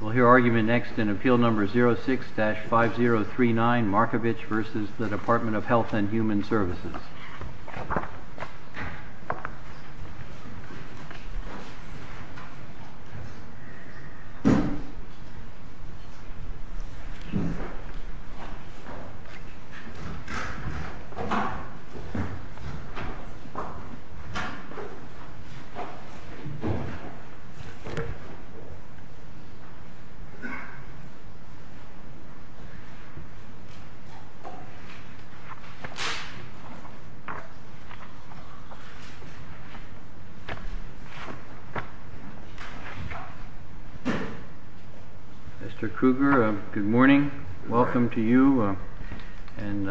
We'll hear argument next in appeal number 06-5039 Markovich v. Department of Health and Human Services Mr. Kruger, good morning. Welcome to you and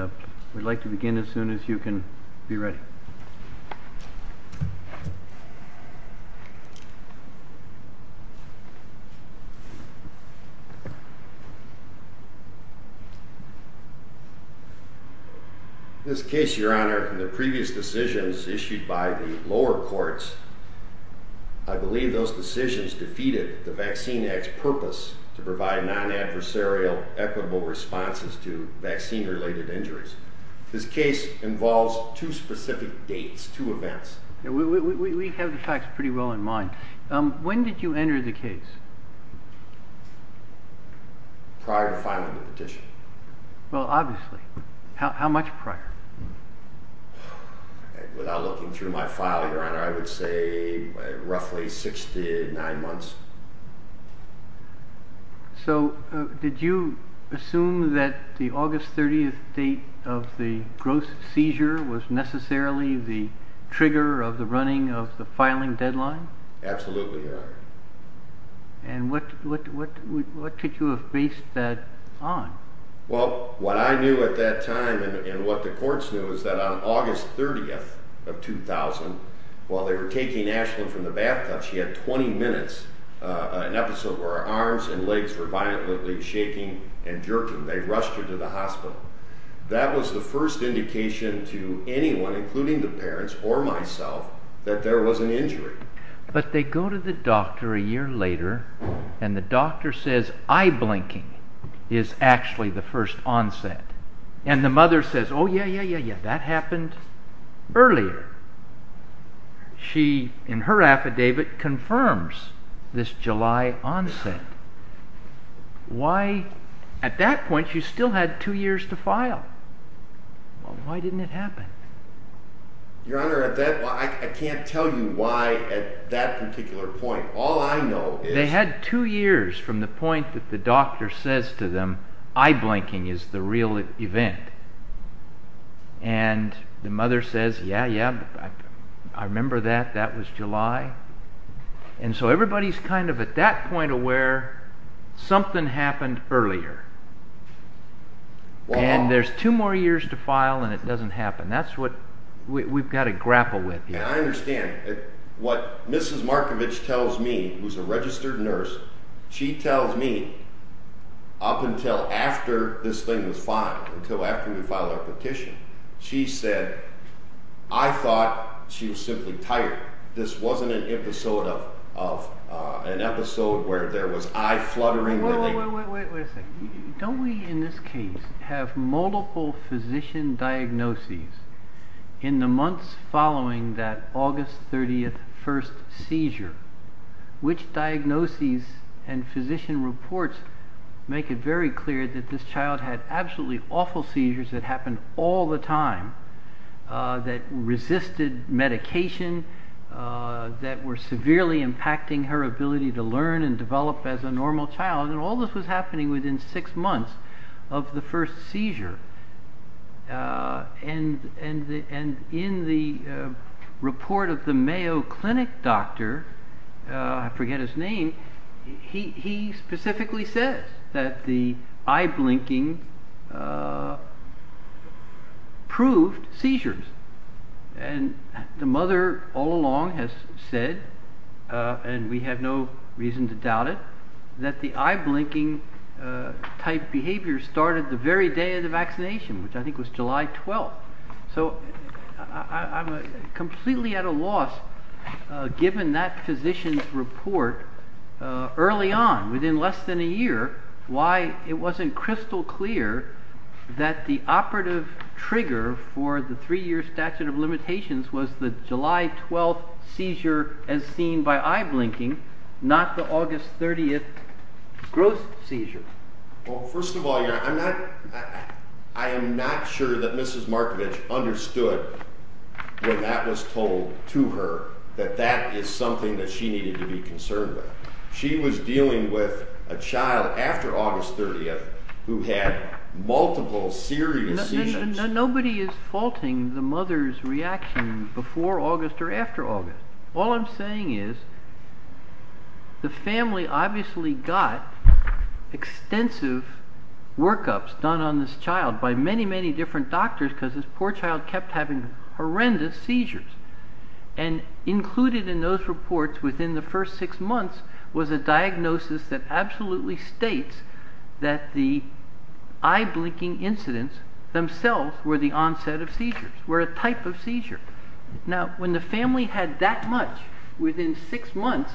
we'd like to begin as soon as you can be ready. This case, your honor, the previous decisions issued by the lower courts, I believe those decisions defeated the Vaccine Act's purpose to provide non-adversarial, equitable responses to vaccine-related injuries. This case involves two specific dates, two events. We have the facts pretty well in mind. When did you enter the case? Prior to filing the petition. Well, obviously. How much prior? Without looking through my file, your honor, I would say roughly six to nine months. So did you assume that the August 30th date of the gross seizure was necessarily the trigger of the running of the filing deadline? Absolutely, your honor. And what could you have based that on? Well, what I knew at that time and what the courts knew is that on August 30th of 2000, while they were taking Ashlyn from the bathtub, she had 20 minutes, an episode where her arms and legs were violently shaking and jerking. They rushed her to the hospital. That was the first indication to anyone, including the parents or myself, that there was an injury. But they go to the doctor a year later and the doctor says eye blinking is actually the first onset. And the mother says, oh yeah, yeah, yeah, yeah, that happened earlier. She, in her affidavit, confirms this July onset. Why, at that point, she still had two years to file. Why didn't it happen? Your honor, I can't tell you why at that particular point. All I know is... They had two years from the point that the doctor says to them, eye blinking is the real event. And the mother says, yeah, yeah, I remember that, that was July. And so everybody's kind of at that point aware something happened earlier. And there's two more years to file and it doesn't happen. That's what we've got to grapple with. Yeah, I understand. What Mrs. Markovich tells me, who's a registered nurse, she tells me up until after this thing was filed, until after we filed our petition, she said, I thought she was simply tired. This wasn't an episode of an episode where there was eye fluttering. Wait a second. Don't we, in this case, have multiple physician diagnoses in the months following that August 30th first seizure? Which diagnoses and physician reports make it very clear that this child had absolutely awful seizures that happened all the time, that resisted medication, that were severely impacting her ability to learn and develop as a normal child. And all this was happening within six months of the first seizure. And in the report of the Mayo Clinic doctor, I forget his name, he specifically says that the eye blinking proved seizures. And the mother all along has said, and we have no reason to doubt it, that the eye blinking type behavior started the very day of the vaccination, which I think was July 12th. So I'm completely at a loss, given that physician's report early on, within less than a year, why it wasn't crystal clear that the operative trigger for the three year statute of limitations was the July 12th seizure as seen by eye blinking, not the August 30th growth seizure. Well, first of all, I am not sure that Mrs. Markovich understood when that was told to her, that that is something that she needed to be concerned with. She was dealing with a child after August 30th who had multiple serious seizures. Nobody is faulting the mother's reaction before August or after August. All I'm saying is, the family obviously got extensive workups done on this child by many, many different doctors because this poor child kept having horrendous seizures. And included in those reports within the first six months was a diagnosis that absolutely states that the eye blinking incidents themselves were the onset of seizures, were a type of seizure. Now, when the family had that much within six months,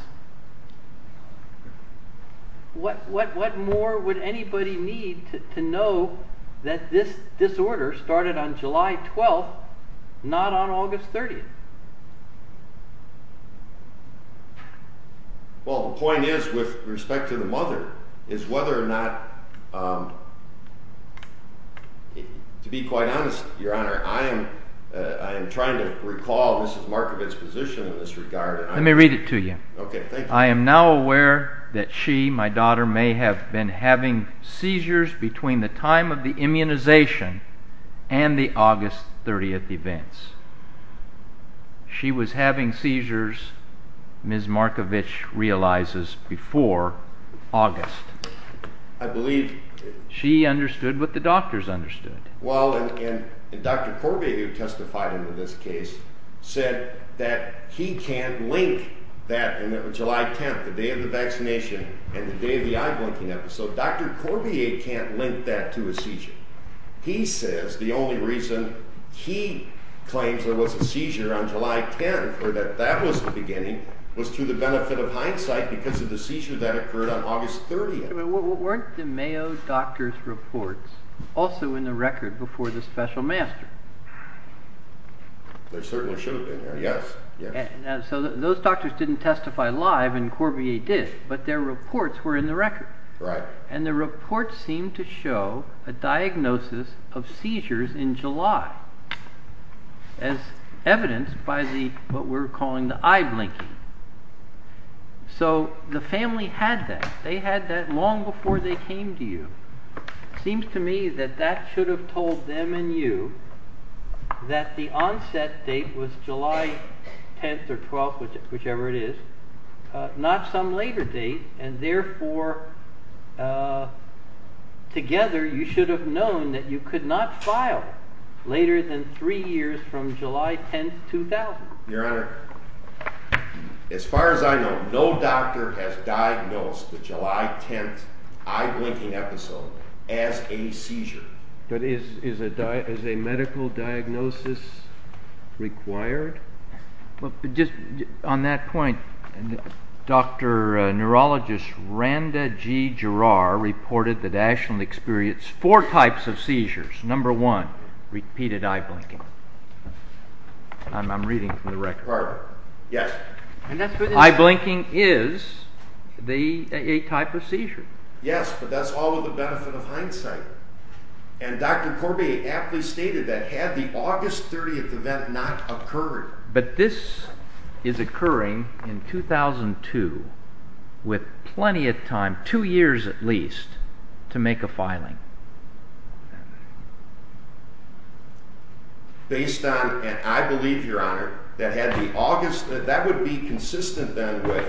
what more would anybody need to know that this disorder started on July 12th, not on August 30th? Well, the point is, with respect to the mother, is whether or not, to be quite honest, Your Honor, I am trying to recall Mrs. Markovich's position in this regard. Let me read it to you. Okay, thank you. I am now aware that she, my daughter, may have been having seizures between the time of the immunization and the August 30th events. She was having seizures, Mrs. Markovich realizes, before August. I believe... She understood what the doctors understood. Well, and Dr. Corbier, who testified in this case, said that he can't link that July 10th, the day of the vaccination, and the day of the eye blinking episode. Dr. Corbier can't link that to a seizure. He says the only reason he claims there was a seizure on July 10th, or that that was the beginning, was to the benefit of hindsight because of the seizure that occurred on August 30th. Weren't the Mayo doctor's reports also in the record before the special master? They certainly should have been, yes. So those doctors didn't testify live, and Corbier did, but their reports were in the record. Right. And the reports seemed to show a diagnosis of seizures in July, as evidenced by what we're calling the eye blinking. So the family had that. They had that long before they came to you. Seems to me that that should have told them and you that the onset date was July 10th or 12th, whichever it is, not some later date, and therefore, together, you should have known that you could not file later than three years from July 10th, 2000. Your Honor, as far as I know, no doctor has diagnosed the July 10th eye blinking episode as a seizure. But is a medical diagnosis required? On that point, Dr. Neurologist Randa G. Gerrar reported that Ashland experienced four types of seizures. Number one, repeated eye blinking. I'm reading from the record. Yes. Eye blinking is a type of seizure. And Dr. Corbier aptly stated that had the August 30th event not occurred. But this is occurring in 2002 with plenty of time, two years at least, to make a filing. Based on, and I believe, Your Honor, that had the August, that would be consistent then with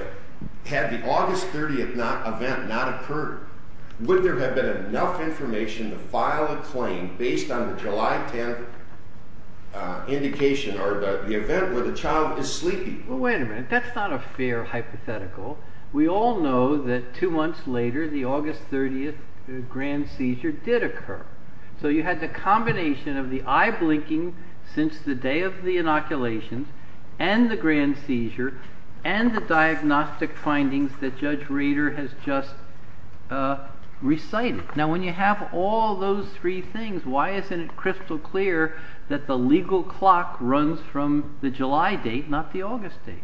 had the August 30th event not occurred, would there have been enough information to file a claim based on the July 10th indication or the event where the child is sleepy? Well, wait a minute. That's not a fair hypothetical. We all know that two months later the August 30th grand seizure did occur. So you had the combination of the eye blinking since the day of the inoculation and the grand seizure and the diagnostic findings that Judge Rader has just recited. Now, when you have all those three things, why isn't it crystal clear that the legal clock runs from the July date, not the August date?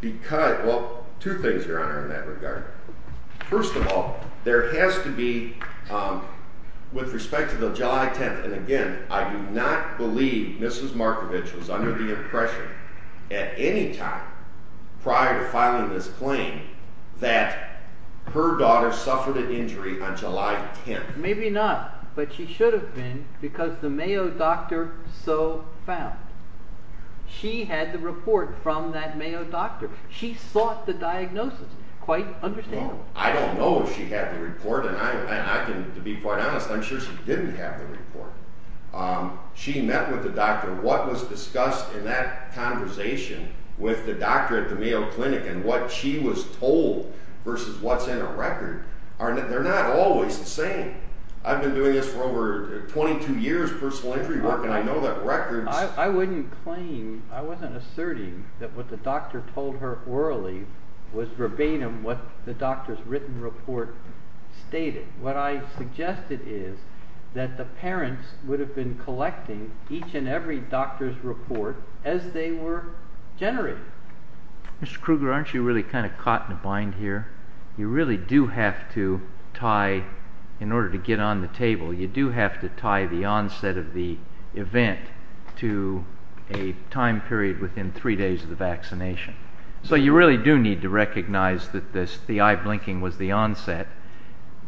Because, well, two things, Your Honor, in that regard. First of all, there has to be, with respect to the July 10th, and again, I do not believe Mrs. Markovich was under the impression at any time prior to filing this claim that her daughter suffered an injury on July 10th. Maybe not, but she should have been because the Mayo doctor so found. She had the report from that Mayo doctor. She sought the diagnosis. Quite understandable. I don't know if she had the report, and I can, to be quite honest, I'm sure she didn't have the report. She met with the doctor. What was discussed in that conversation with the doctor at the Mayo Clinic and what she was told versus what's in a record, they're not always the same. I've been doing this for over 22 years, personal injury work, and I know that records… I wouldn't claim, I wasn't asserting that what the doctor told her orally was verbatim what the doctor's written report stated. What I suggested is that the parents would have been collecting each and every doctor's report as they were generating. Mr. Kruger, aren't you really kind of caught in a bind here? You really do have to tie, in order to get on the table, you do have to tie the onset of the event to a time period within three days of the vaccination. So you really do need to recognize that the eye blinking was the onset.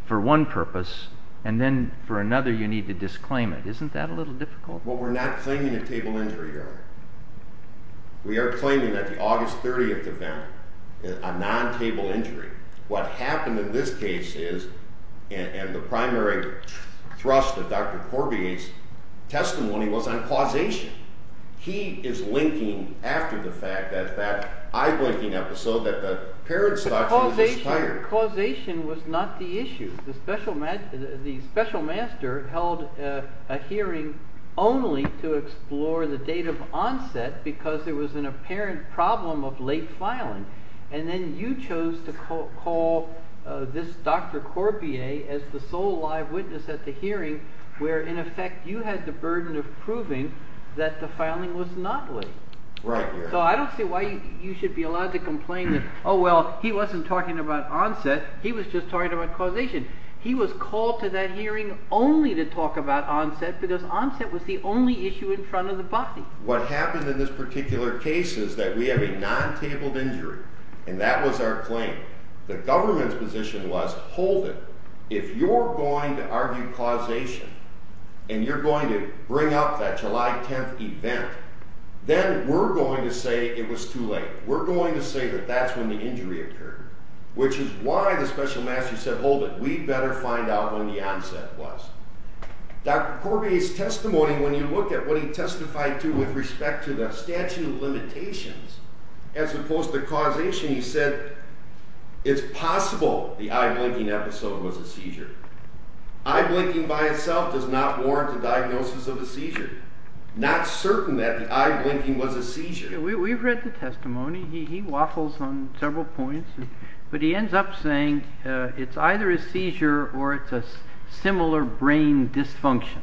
For one purpose, and then for another you need to disclaim it. Isn't that a little difficult? Well, we're not claiming a table injury, Your Honor. We are claiming that the August 30th event is a non-table injury. What happened in this case is, and the primary thrust of Dr. Corbett's testimony was on causation. He is linking after the fact that that eye blinking episode that the parents thought she was tired. But causation was not the issue. The special master held a hearing only to explore the date of onset because there was an apparent problem of late filing. And then you chose to call this Dr. Corbett as the sole live witness at the hearing where, in effect, you had the burden of proving that the filing was not late. Right, Your Honor. So I don't see why you should be allowed to complain that, oh well, he wasn't talking about onset, he was just talking about causation. He was called to that hearing only to talk about onset because onset was the only issue in front of the body. What happened in this particular case is that we have a non-tabled injury, and that was our claim. The government's position was, hold it. If you're going to argue causation, and you're going to bring up that July 10th event, then we're going to say it was too late. We're going to say that that's when the injury occurred. Which is why the special master said, hold it, we'd better find out when the onset was. Dr. Corbett's testimony, when you look at what he testified to with respect to the statute of limitations as opposed to causation, you said it's possible the eye blinking episode was a seizure. Eye blinking by itself does not warrant a diagnosis of a seizure. Not certain that the eye blinking was a seizure. We've read the testimony. He waffles on several points. But he ends up saying it's either a seizure or it's a similar brain dysfunction.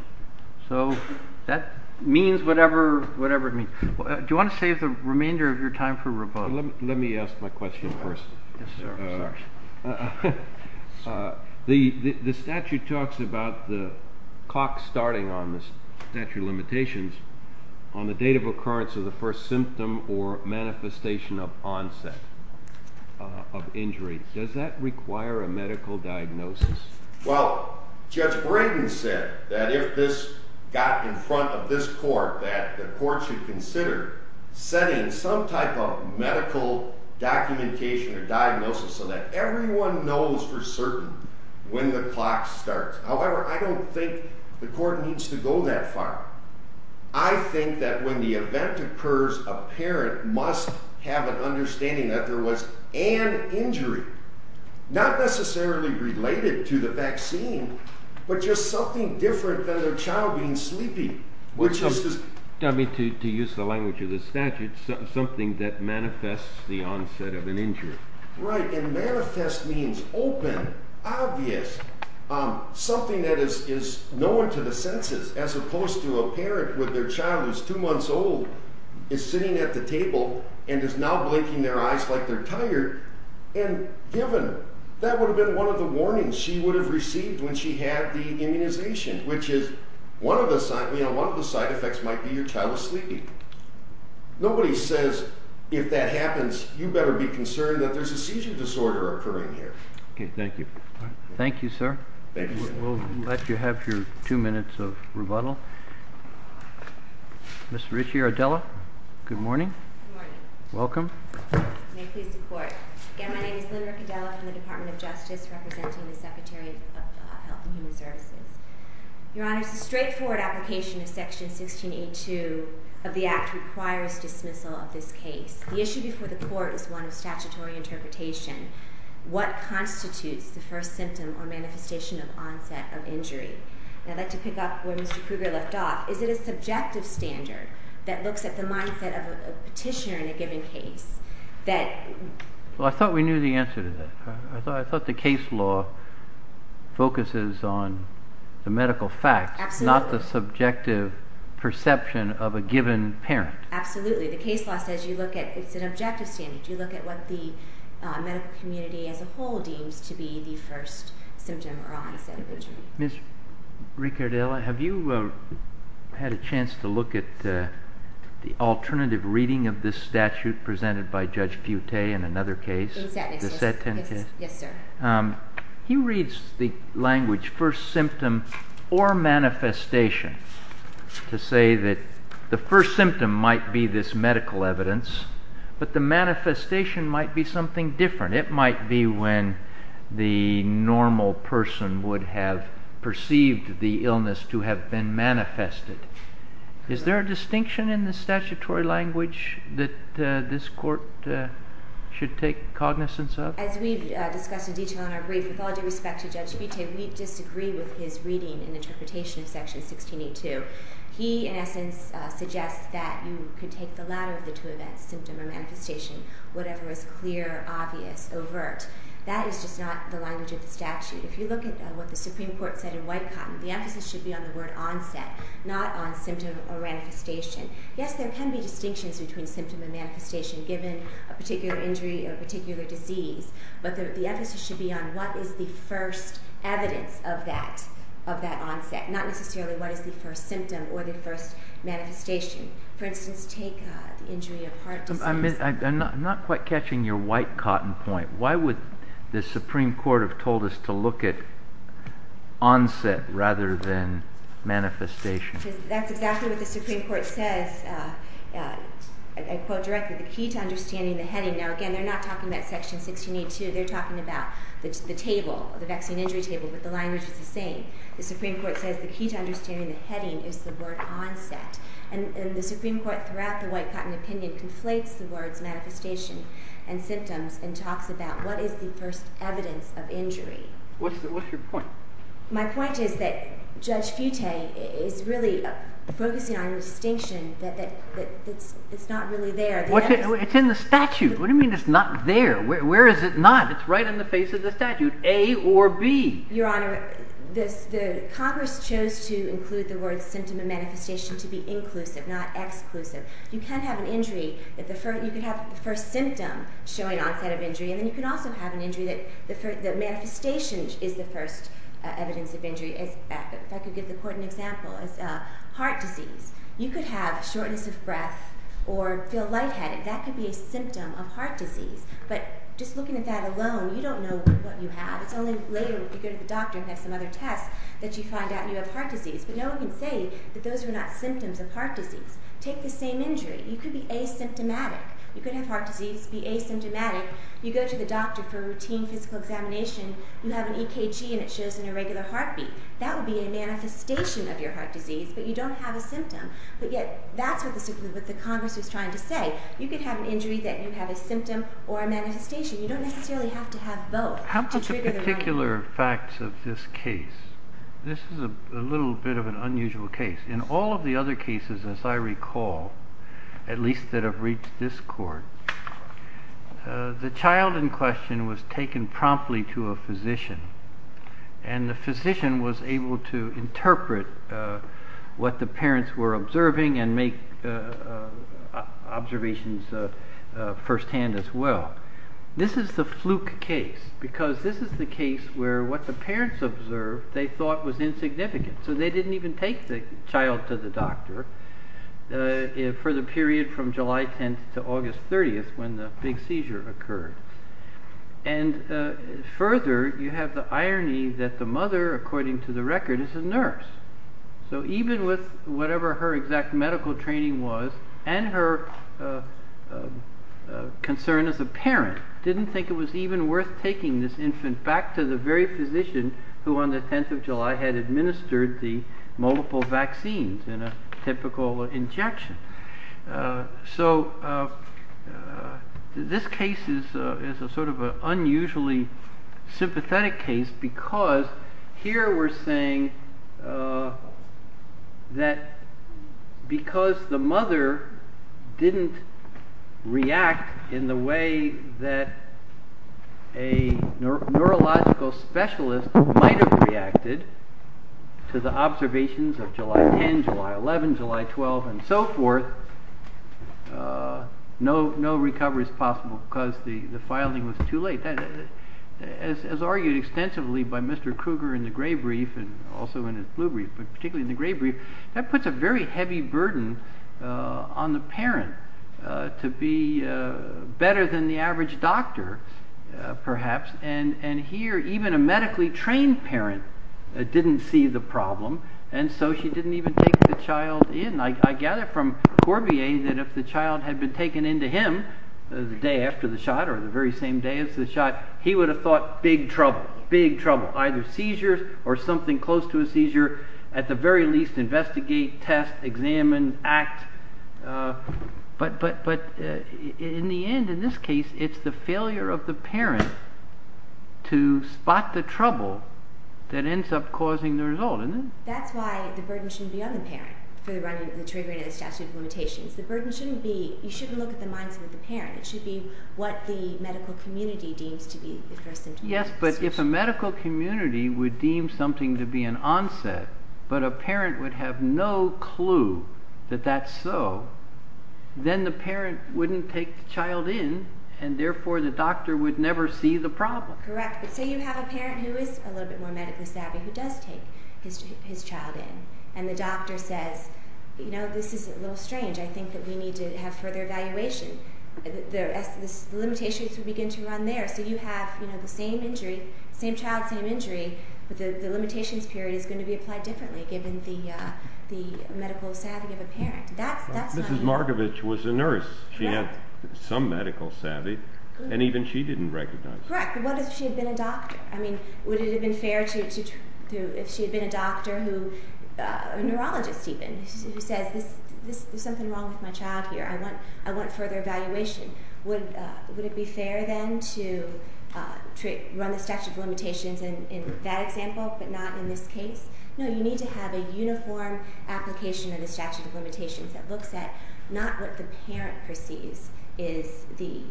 So that means whatever it means. Do you want to save the remainder of your time for rebuttal? Let me ask my question first. The statute talks about the clock starting on the statute of limitations on the date of occurrence of the first symptom or manifestation of onset of injury. Does that require a medical diagnosis? Well, Judge Braden said that if this got in front of this court, that the court should consider setting some type of medical documentation or diagnosis so that everyone knows for certain when the clock starts. However, I don't think the court needs to go that far. I think that when the event occurs, a parent must have an understanding that there was an injury, not necessarily related to the vaccine, but just something different than their child being sleepy. Which is, to use the language of the statute, something that manifests the onset of an injury. Right, and manifest means open, obvious, something that is known to the senses. As opposed to a parent where their child is two months old, is sitting at the table, and is now blinking their eyes like they're tired. And given, that would have been one of the warnings she would have received when she had the immunization. Which is, one of the side effects might be your child is sleeping. Nobody says, if that happens, you better be concerned that there's a seizure disorder occurring here. OK, thank you. Thank you, sir. Thank you, sir. We'll let you have your two minutes of rebuttal. Ms. Ricciardella, good morning. Good morning. Welcome. May it please the court. Again, my name is Lynn Ricciardella from the Department of Justice, representing the Secretary of Health and Human Services. Your Honor, it's a straightforward application of Section 1682 of the Act requires dismissal of this case. The issue before the court is one of statutory interpretation. What constitutes the first symptom or manifestation of onset of injury? And I'd like to pick up where Mr. Kruger left off. Is it a subjective standard that looks at the mindset of a petitioner in a given case? Well, I thought we knew the answer to that. I thought the case law focuses on the medical facts, not the subjective perception of a given parent. Absolutely. The case law says it's an objective standard. You look at what the medical community as a whole deems to be the first symptom or onset of injury. Ms. Ricciardella, have you had a chance to look at the alternative reading of this statute presented by Judge Butte in another case? Yes, sir. He reads the language first symptom or manifestation to say that the first symptom might be this medical evidence, but the manifestation might be something different. It might be when the normal person would have perceived the illness to have been manifested. Is there a distinction in the statutory language that this court should take cognizance of? As we've discussed in detail in our brief, with all due respect to Judge Butte, we disagree with his reading and interpretation of Section 1682. He, in essence, suggests that you could take the latter of the two events, symptom or manifestation, whatever is clear, obvious, overt. That is just not the language of the statute. If you look at what the Supreme Court said in White-Cotton, the emphasis should be on the word onset, not on symptom or manifestation. Yes, there can be distinctions between symptom and manifestation given a particular injury or a particular disease, but the emphasis should be on what is the first evidence of that onset, not necessarily what is the first symptom or the first manifestation. For instance, take the injury of heart disease. I'm not quite catching your White-Cotton point. Why would the Supreme Court have told us to look at onset rather than manifestation? That's exactly what the Supreme Court says. I quote directly, the key to understanding the heading. Now, again, they're not talking about Section 1682. They're talking about the table, the vaccine injury table, but the language is the same. The Supreme Court says the key to understanding the heading is the word onset. And the Supreme Court throughout the White-Cotton opinion conflates the words manifestation and symptoms and talks about what is the first evidence of injury. What's your point? My point is that Judge Fute is really focusing on a distinction that's not really there. It's in the statute. What do you mean it's not there? Where is it not? It's right in the face of the statute, A or B. Your Honor, Congress chose to include the words symptom and manifestation to be inclusive, not exclusive. You can have an injury. You can have the first symptom showing onset of injury, and then you can also have an injury that the manifestation is the first evidence of injury. If I could give the Court an example, it's heart disease. You could have shortness of breath or feel lightheaded. That could be a symptom of heart disease. But just looking at that alone, you don't know what you have. It's only later when you go to the doctor and have some other tests that you find out you have heart disease. But no one can say that those are not symptoms of heart disease. Take the same injury. You could be asymptomatic. You could have heart disease, be asymptomatic. You go to the doctor for a routine physical examination. You have an EKG, and it shows an irregular heartbeat. That would be a manifestation of your heart disease, but you don't have a symptom. But yet that's what the Congress was trying to say. You could have an injury that you have a symptom or a manifestation. You don't necessarily have to have both to trigger the right one. How about the particular facts of this case? This is a little bit of an unusual case. In all of the other cases, as I recall, at least that have reached this Court, the child in question was taken promptly to a physician, and the physician was able to interpret what the parents were observing and make observations firsthand as well. This is the fluke case because this is the case where what the parents observed they thought was insignificant, so they didn't even take the child to the doctor for the period from July 10th to August 30th when the big seizure occurred. Further, you have the irony that the mother, according to the record, is a nurse. So even with whatever her exact medical training was and her concern as a parent, didn't think it was even worth taking this infant back to the very physician who on the 10th of July had administered the multiple vaccines in a typical injection. So this case is sort of an unusually sympathetic case because here we're saying that because the mother didn't react in the way that a neurological specialist might have reacted to the observations of July 10th, July 11th, July 12th, and so forth, no recovery is possible because the filing was too late. As argued extensively by Mr. Kruger in the gray brief and also in his blue brief, but particularly in the gray brief, that puts a very heavy burden on the parent to be better than the average doctor, perhaps, and here even a medically trained parent didn't see the problem, and so she didn't even take the child in. I gather from Corbier that if the child had been taken in to him the day after the shot or the very same day after the shot, he would have thought big trouble, big trouble, either seizures or something close to a seizure. At the very least, investigate, test, examine, act. But in the end, in this case, it's the failure of the parent to spot the trouble that ends up causing the result. That's why the burden shouldn't be on the parent for the triggering of the statute of limitations. The burden shouldn't be, you shouldn't look at the mindset of the parent. It should be what the medical community deems to be the first symptom. Yes, but if a medical community would deem something to be an onset, but a parent would have no clue that that's so, then the parent wouldn't take the child in, and therefore the doctor would never see the problem. Correct, but say you have a parent who is a little bit more medically savvy who does take his child in, and the doctor says, you know, this is a little strange. I think that we need to have further evaluation. The limitations would begin to run there. So you have the same injury, same child, same injury, but the limitations period is going to be applied differently given the medical savvy of a parent. Mrs. Markovich was a nurse. She had some medical savvy, and even she didn't recognize it. Correct, but what if she had been a doctor? I mean, would it have been fair if she had been a doctor who, a neurologist even, who says, there's something wrong with my child here. I want further evaluation. Would it be fair then to run the statute of limitations in that example but not in this case? No, you need to have a uniform application of the statute of limitations that looks at not what the parent perceives is the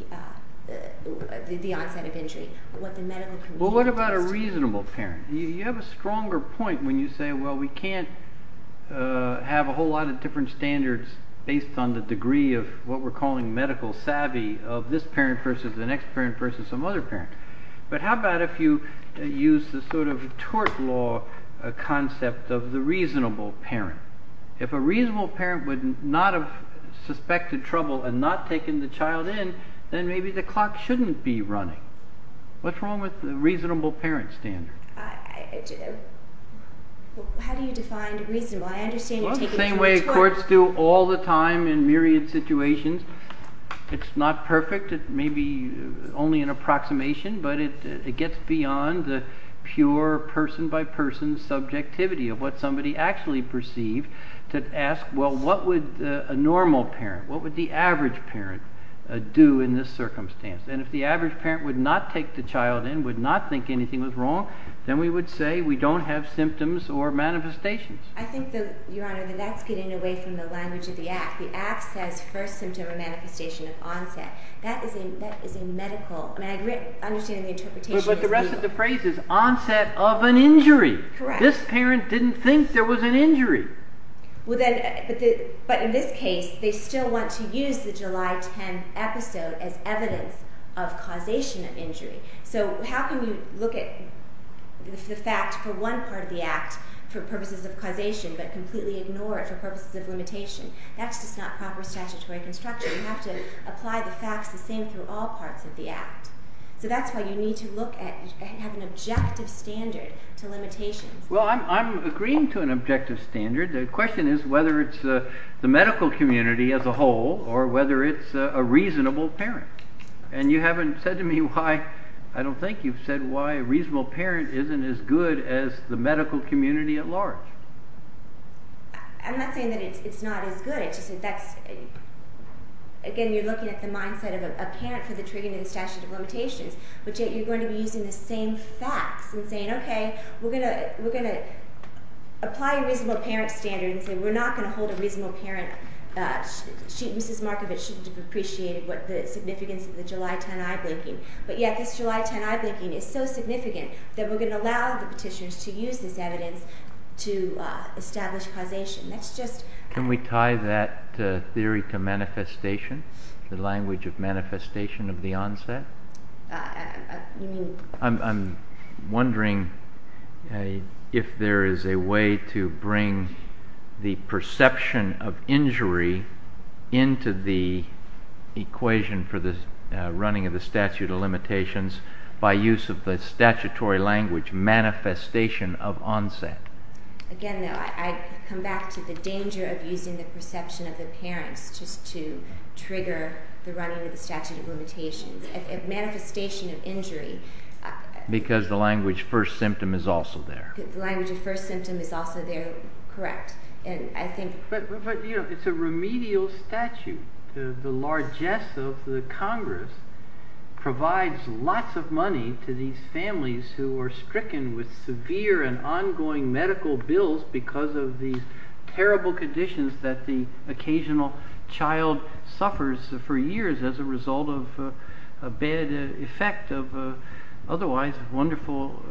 onset of injury, but what the medical community has to say. Well, what about a reasonable parent? You have a stronger point when you say, well, we can't have a whole lot of different standards based on the degree of what we're calling medical savvy of this parent versus the next parent versus some other parent. But how about if you use the sort of tort law concept of the reasonable parent? If a reasonable parent would not have suspected trouble and not taken the child in, then maybe the clock shouldn't be running. What's wrong with the reasonable parent standard? How do you define reasonable? I understand you're taking the child in. Well, it's the same way courts do all the time in myriad situations. It's not perfect. It may be only an approximation, but it gets beyond the pure person-by-person subjectivity of what somebody actually perceived to ask, well, what would a normal parent, what would the average parent do in this circumstance? And if the average parent would not take the child in, would not think anything was wrong, then we would say we don't have symptoms or manifestations. I think, Your Honor, that that's getting away from the language of the act. The act says first symptom or manifestation of onset. That is a medical, I mean, I understand the interpretation is reasonable. But the rest of the phrase is onset of an injury. Correct. This parent didn't think there was an injury. But in this case, they still want to use the July 10 episode as evidence of causation of injury. So how can you look at the fact for one part of the act for purposes of causation but completely ignore it for purposes of limitation? That's just not proper statutory construction. You have to apply the facts the same through all parts of the act. So that's why you need to have an objective standard to limitations. Well, I'm agreeing to an objective standard. The question is whether it's the medical community as a whole or whether it's a reasonable parent. And you haven't said to me why. I don't think you've said why a reasonable parent isn't as good as the medical community at large. I'm not saying that it's not as good. It's just that's, again, you're looking at the mindset of a parent for the treatment and statutory limitations. But yet you're going to be using the same facts and saying, OK, we're going to apply a reasonable parent standard and say we're not going to hold a reasonable parent. Mrs. Markovitch shouldn't have appreciated the significance of the July 10 eye blinking. But yet this July 10 eye blinking is so significant that we're going to allow the petitioners to use this evidence to establish causation. That's just— Can we tie that theory to manifestation, the language of manifestation of the onset? You mean— I'm wondering if there is a way to bring the perception of injury into the equation for the running of the statute of limitations by use of the statutory language manifestation of onset. Again, I come back to the danger of using the perception of the parents just to trigger the running of the statute of limitations. Manifestation of injury— Because the language first symptom is also there. The language of first symptom is also there, correct. And I think— But, you know, it's a remedial statute. The largesse of the Congress provides lots of money to these families who are stricken with severe and ongoing medical bills because of these terrible conditions that the occasional child suffers for years as a result of a bad effect of otherwise wonderful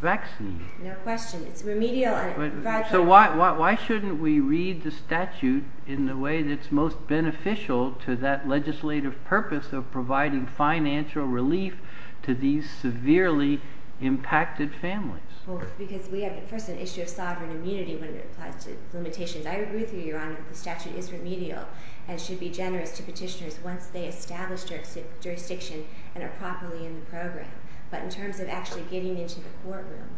vaccines. No question. It's remedial and— So why shouldn't we read the statute in the way that's most beneficial to that legislative purpose of providing financial relief to these severely impacted families? Well, because we have, first, an issue of sovereign immunity when it applies to limitations. I agree with you, Your Honor, that the statute is remedial and should be generous to petitioners once they establish their jurisdiction and are properly in the program. But in terms of actually getting into the courtroom,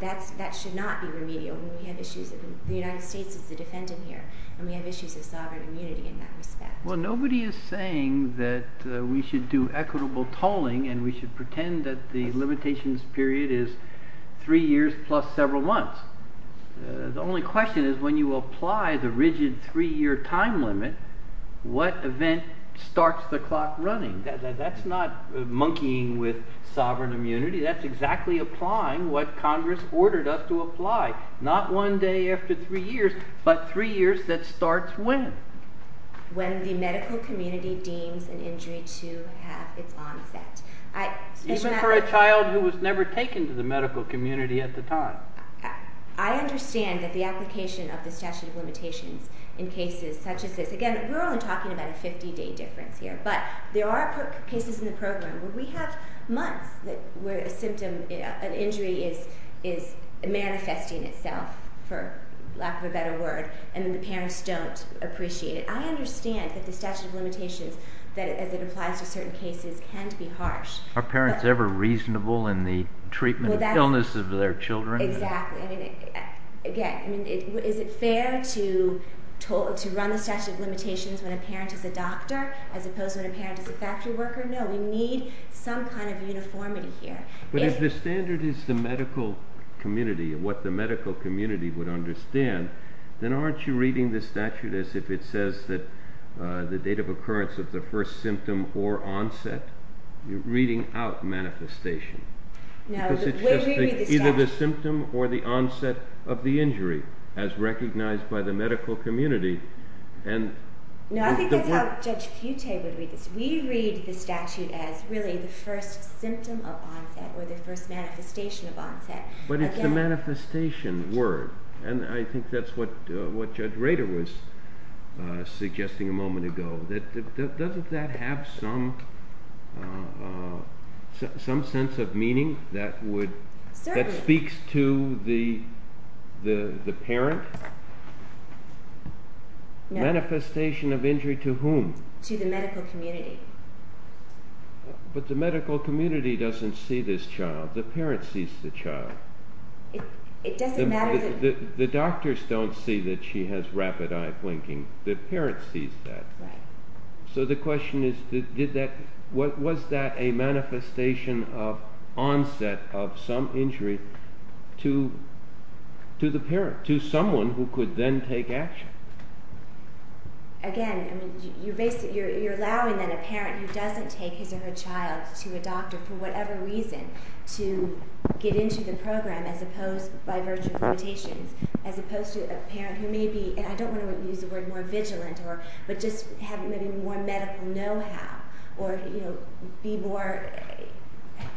that should not be remedial. We have issues—the United States is the defendant here, and we have issues of sovereign immunity in that respect. Well, nobody is saying that we should do equitable tolling and we should pretend that the limitations period is three years plus several months. The only question is when you apply the rigid three-year time limit, what event starts the clock running? That's not monkeying with sovereign immunity. That's exactly applying what Congress ordered us to apply, not one day after three years, but three years that starts when? When the medical community deems an injury to have its own effect. Even for a child who was never taken to the medical community at the time? I understand that the application of the statute of limitations in cases such as this—again, we're only talking about a 50-day difference here. But there are cases in the program where we have months where an injury is manifesting itself, for lack of a better word, and the parents don't appreciate it. I understand that the statute of limitations, as it applies to certain cases, can be harsh. Are parents ever reasonable in the treatment of illness of their children? Exactly. Again, is it fair to run the statute of limitations when a parent is a doctor as opposed to when a parent is a factory worker? No, we need some kind of uniformity here. But if the standard is the medical community, what the medical community would understand, then aren't you reading the statute as if it says that the date of occurrence of the first symptom or onset? You're reading out manifestation. No, we read the statute— Because it's just either the symptom or the onset of the injury, as recognized by the medical community. No, I think that's how Judge Butte would read this. We read the statute as really the first symptom of onset or the first manifestation of onset. But it's the manifestation word, and I think that's what Judge Rader was suggesting a moment ago. Doesn't that have some sense of meaning that speaks to the parent? No. Manifestation of injury to whom? To the medical community. But the medical community doesn't see this child. The parent sees the child. It doesn't matter— The doctors don't see that she has rapid eye blinking. The parent sees that. So the question is, was that a manifestation of onset of some injury to the parent, to someone who could then take action? Again, you're allowing that a parent who doesn't take his or her child to a doctor for whatever reason to get into the program by virtue of limitations, as opposed to a parent who may be— and I don't want to use the word more vigilant, but just have more medical know-how or be more—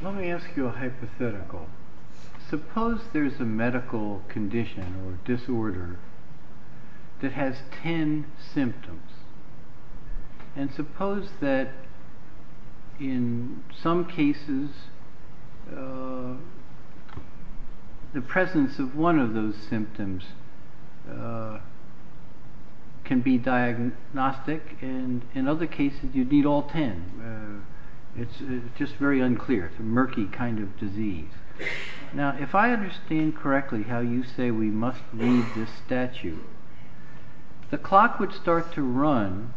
Let me ask you a hypothetical. Suppose there's a medical condition or disorder that has ten symptoms, and suppose that in some cases the presence of one of those symptoms can be diagnostic, and in other cases you need all ten. It's just very unclear. It's a murky kind of disease. Now, if I understand correctly how you say we must leave this statute, the clock would start to run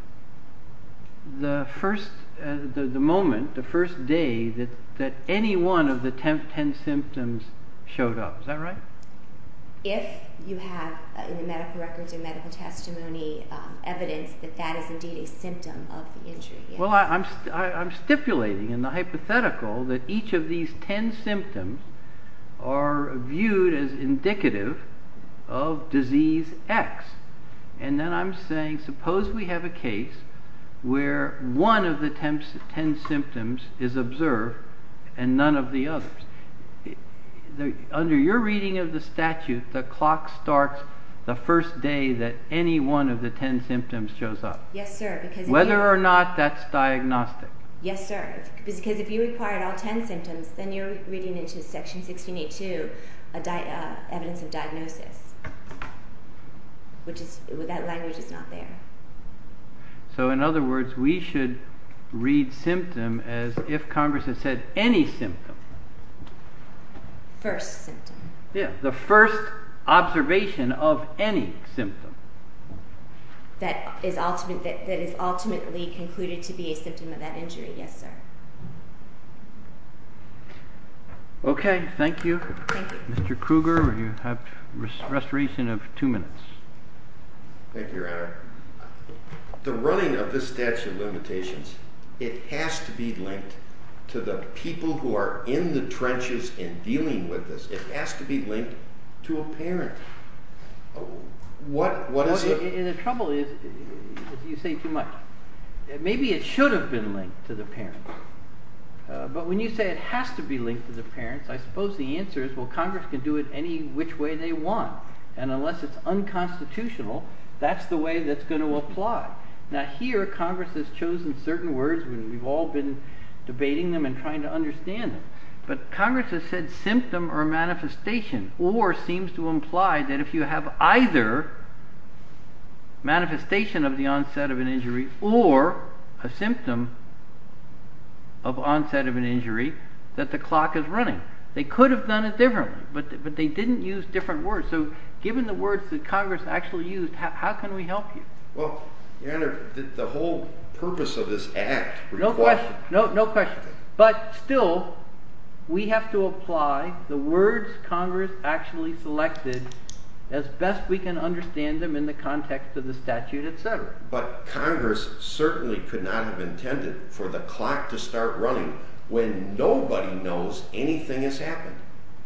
the moment, the first day, that any one of the ten symptoms showed up. Is that right? If you have, in the medical records and medical testimony, evidence that that is indeed a symptom of the injury. Well, I'm stipulating in the hypothetical that each of these ten symptoms are viewed as indicative of disease X. And then I'm saying, suppose we have a case where one of the ten symptoms is observed and none of the others. Under your reading of the statute, the clock starts the first day that any one of the ten symptoms shows up. Yes, sir. Whether or not that's diagnostic. Yes, sir. Because if you required all ten symptoms, then you're reading into Section 1682 evidence of diagnosis. That language is not there. So, in other words, we should read symptom as if Congress has said any symptom. First symptom. Yeah. The first observation of any symptom. That is ultimately concluded to be a symptom of that injury. Yes, sir. Okay. Thank you. Thank you. Mr. Kruger, you have restoration of two minutes. Thank you, Your Honor. The running of this statute of limitations, it has to be linked to the people who are in the trenches and dealing with this. It has to be linked to a parent. The trouble is, you say too much. Maybe it should have been linked to the parent. But when you say it has to be linked to the parents, I suppose the answer is, well, Congress can do it any which way they want. And unless it's unconstitutional, that's the way that's going to apply. Now, here, Congress has chosen certain words, and we've all been debating them and trying to understand them. But Congress has said symptom or manifestation, or seems to imply that if you have either manifestation of the onset of an injury or a symptom of onset of an injury, that the clock is running. They could have done it differently, but they didn't use different words. So given the words that Congress actually used, how can we help you? Well, Your Honor, the whole purpose of this act requires— No question. No question. But still, we have to apply the words Congress actually selected as best we can understand them in the context of the statute, etc. But Congress certainly could not have intended for the clock to start running when nobody knows anything has happened.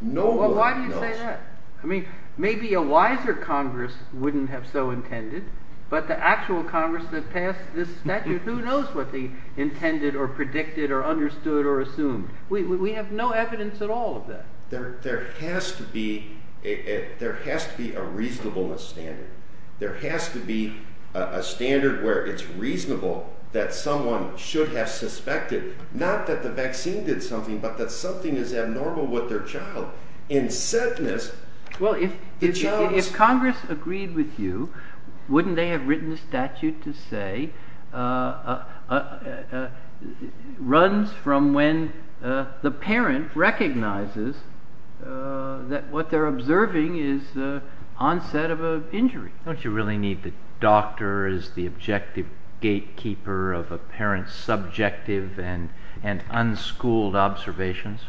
Nobody knows. Well, why do you say that? I mean, maybe a wiser Congress wouldn't have so intended, but the actual Congress that passed this statute, who knows what they intended or predicted or understood or assumed? We have no evidence at all of that. There has to be a reasonableness standard. There has to be a standard where it's reasonable that someone should have suspected, not that the vaccine did something, but that something is abnormal with their child. Well, if Congress agreed with you, wouldn't they have written the statute to say, runs from when the parent recognizes that what they're observing is the onset of an injury? Don't you really need the doctor as the objective gatekeeper of a parent's subjective and unschooled observations?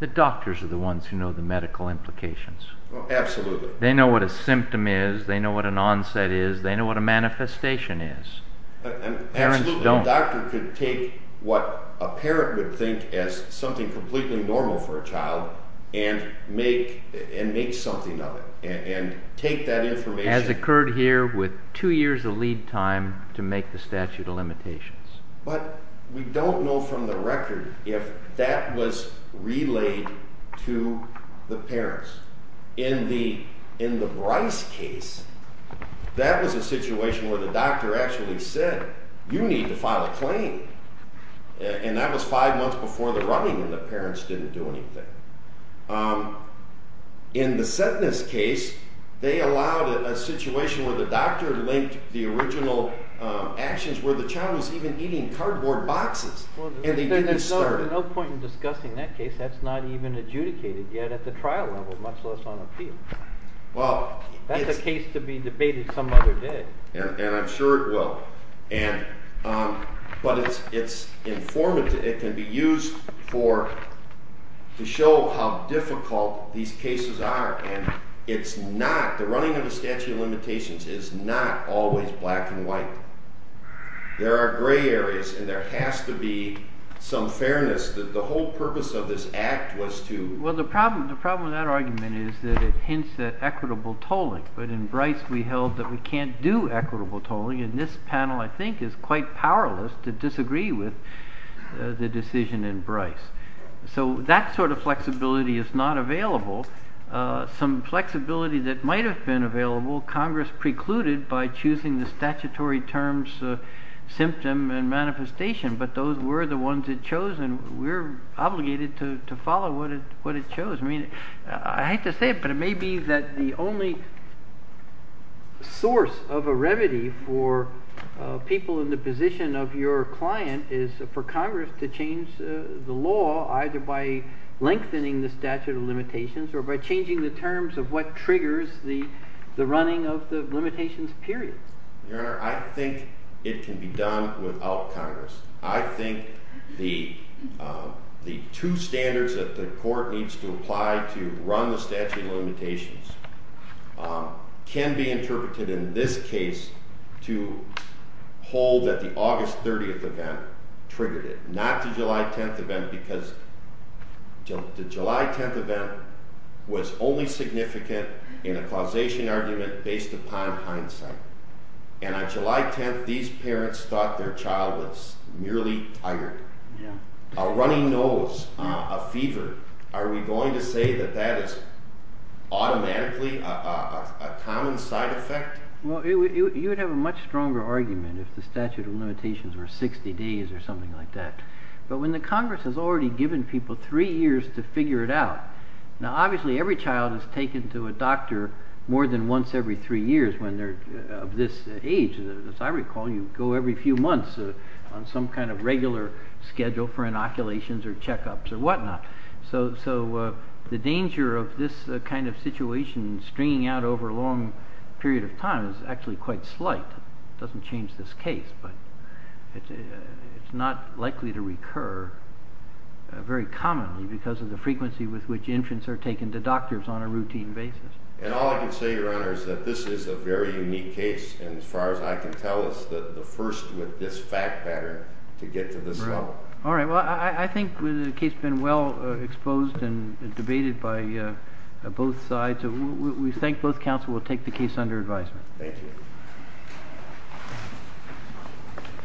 The doctors are the ones who know the medical implications. Absolutely. They know what a symptom is, they know what an onset is, they know what a manifestation is. Absolutely. Parents don't. A doctor could take what a parent would think as something completely normal for a child and make something of it and take that information. As occurred here with two years of lead time to make the statute of limitations. But we don't know from the record if that was relayed to the parents. In the Bryce case, that was a situation where the doctor actually said, you need to file a claim. And that was five months before the running and the parents didn't do anything. In the Sentness case, they allowed a situation where the doctor linked the original actions where the child was even eating cardboard boxes and they didn't start it. There's no point in discussing that case. That's not even adjudicated yet at the trial level, much less on appeal. That's a case to be debated some other day. And I'm sure it will. But it's informative. It can be used to show how difficult these cases are. And it's not—the running of the statute of limitations is not always black and white. There are gray areas and there has to be some fairness. The whole purpose of this act was to— Well, the problem with that argument is that it hints at equitable tolling. But in Bryce, we held that we can't do equitable tolling. And this panel, I think, is quite powerless to disagree with the decision in Bryce. So that sort of flexibility is not available. Some flexibility that might have been available, Congress precluded by choosing the statutory terms symptom and manifestation. But those were the ones it chose, and we're obligated to follow what it chose. I mean, I hate to say it, but it may be that the only source of a remedy for people in the position of your client is for Congress to change the law either by lengthening the statute of limitations or by changing the terms of what triggers the running of the limitations period. Your Honor, I think it can be done without Congress. I think the two standards that the court needs to apply to run the statute of limitations can be interpreted in this case to hold that the August 30th event triggered it. Not the July 10th event, because the July 10th event was only significant in a causation argument based upon hindsight. And on July 10th, these parents thought their child was merely tired, a runny nose, a fever. Are we going to say that that is automatically a common side effect? Well, you would have a much stronger argument if the statute of limitations were 60 days or something like that. But when the Congress has already given people three years to figure it out, now obviously every child is taken to a doctor more than once every three years of this age. As I recall, you go every few months on some kind of regular schedule for inoculations or checkups or whatnot. So the danger of this kind of situation stringing out over a long period of time is actually quite slight. It doesn't change this case, but it's not likely to recur very commonly because of the frequency with which infants are taken to doctors on a routine basis. And all I can say, Your Honor, is that this is a very unique case. And as far as I can tell, it's the first with this fact pattern to get to this level. All right. Well, I think the case has been well exposed and debated by both sides. We thank both counsel. We'll take the case under advisement. Thank you.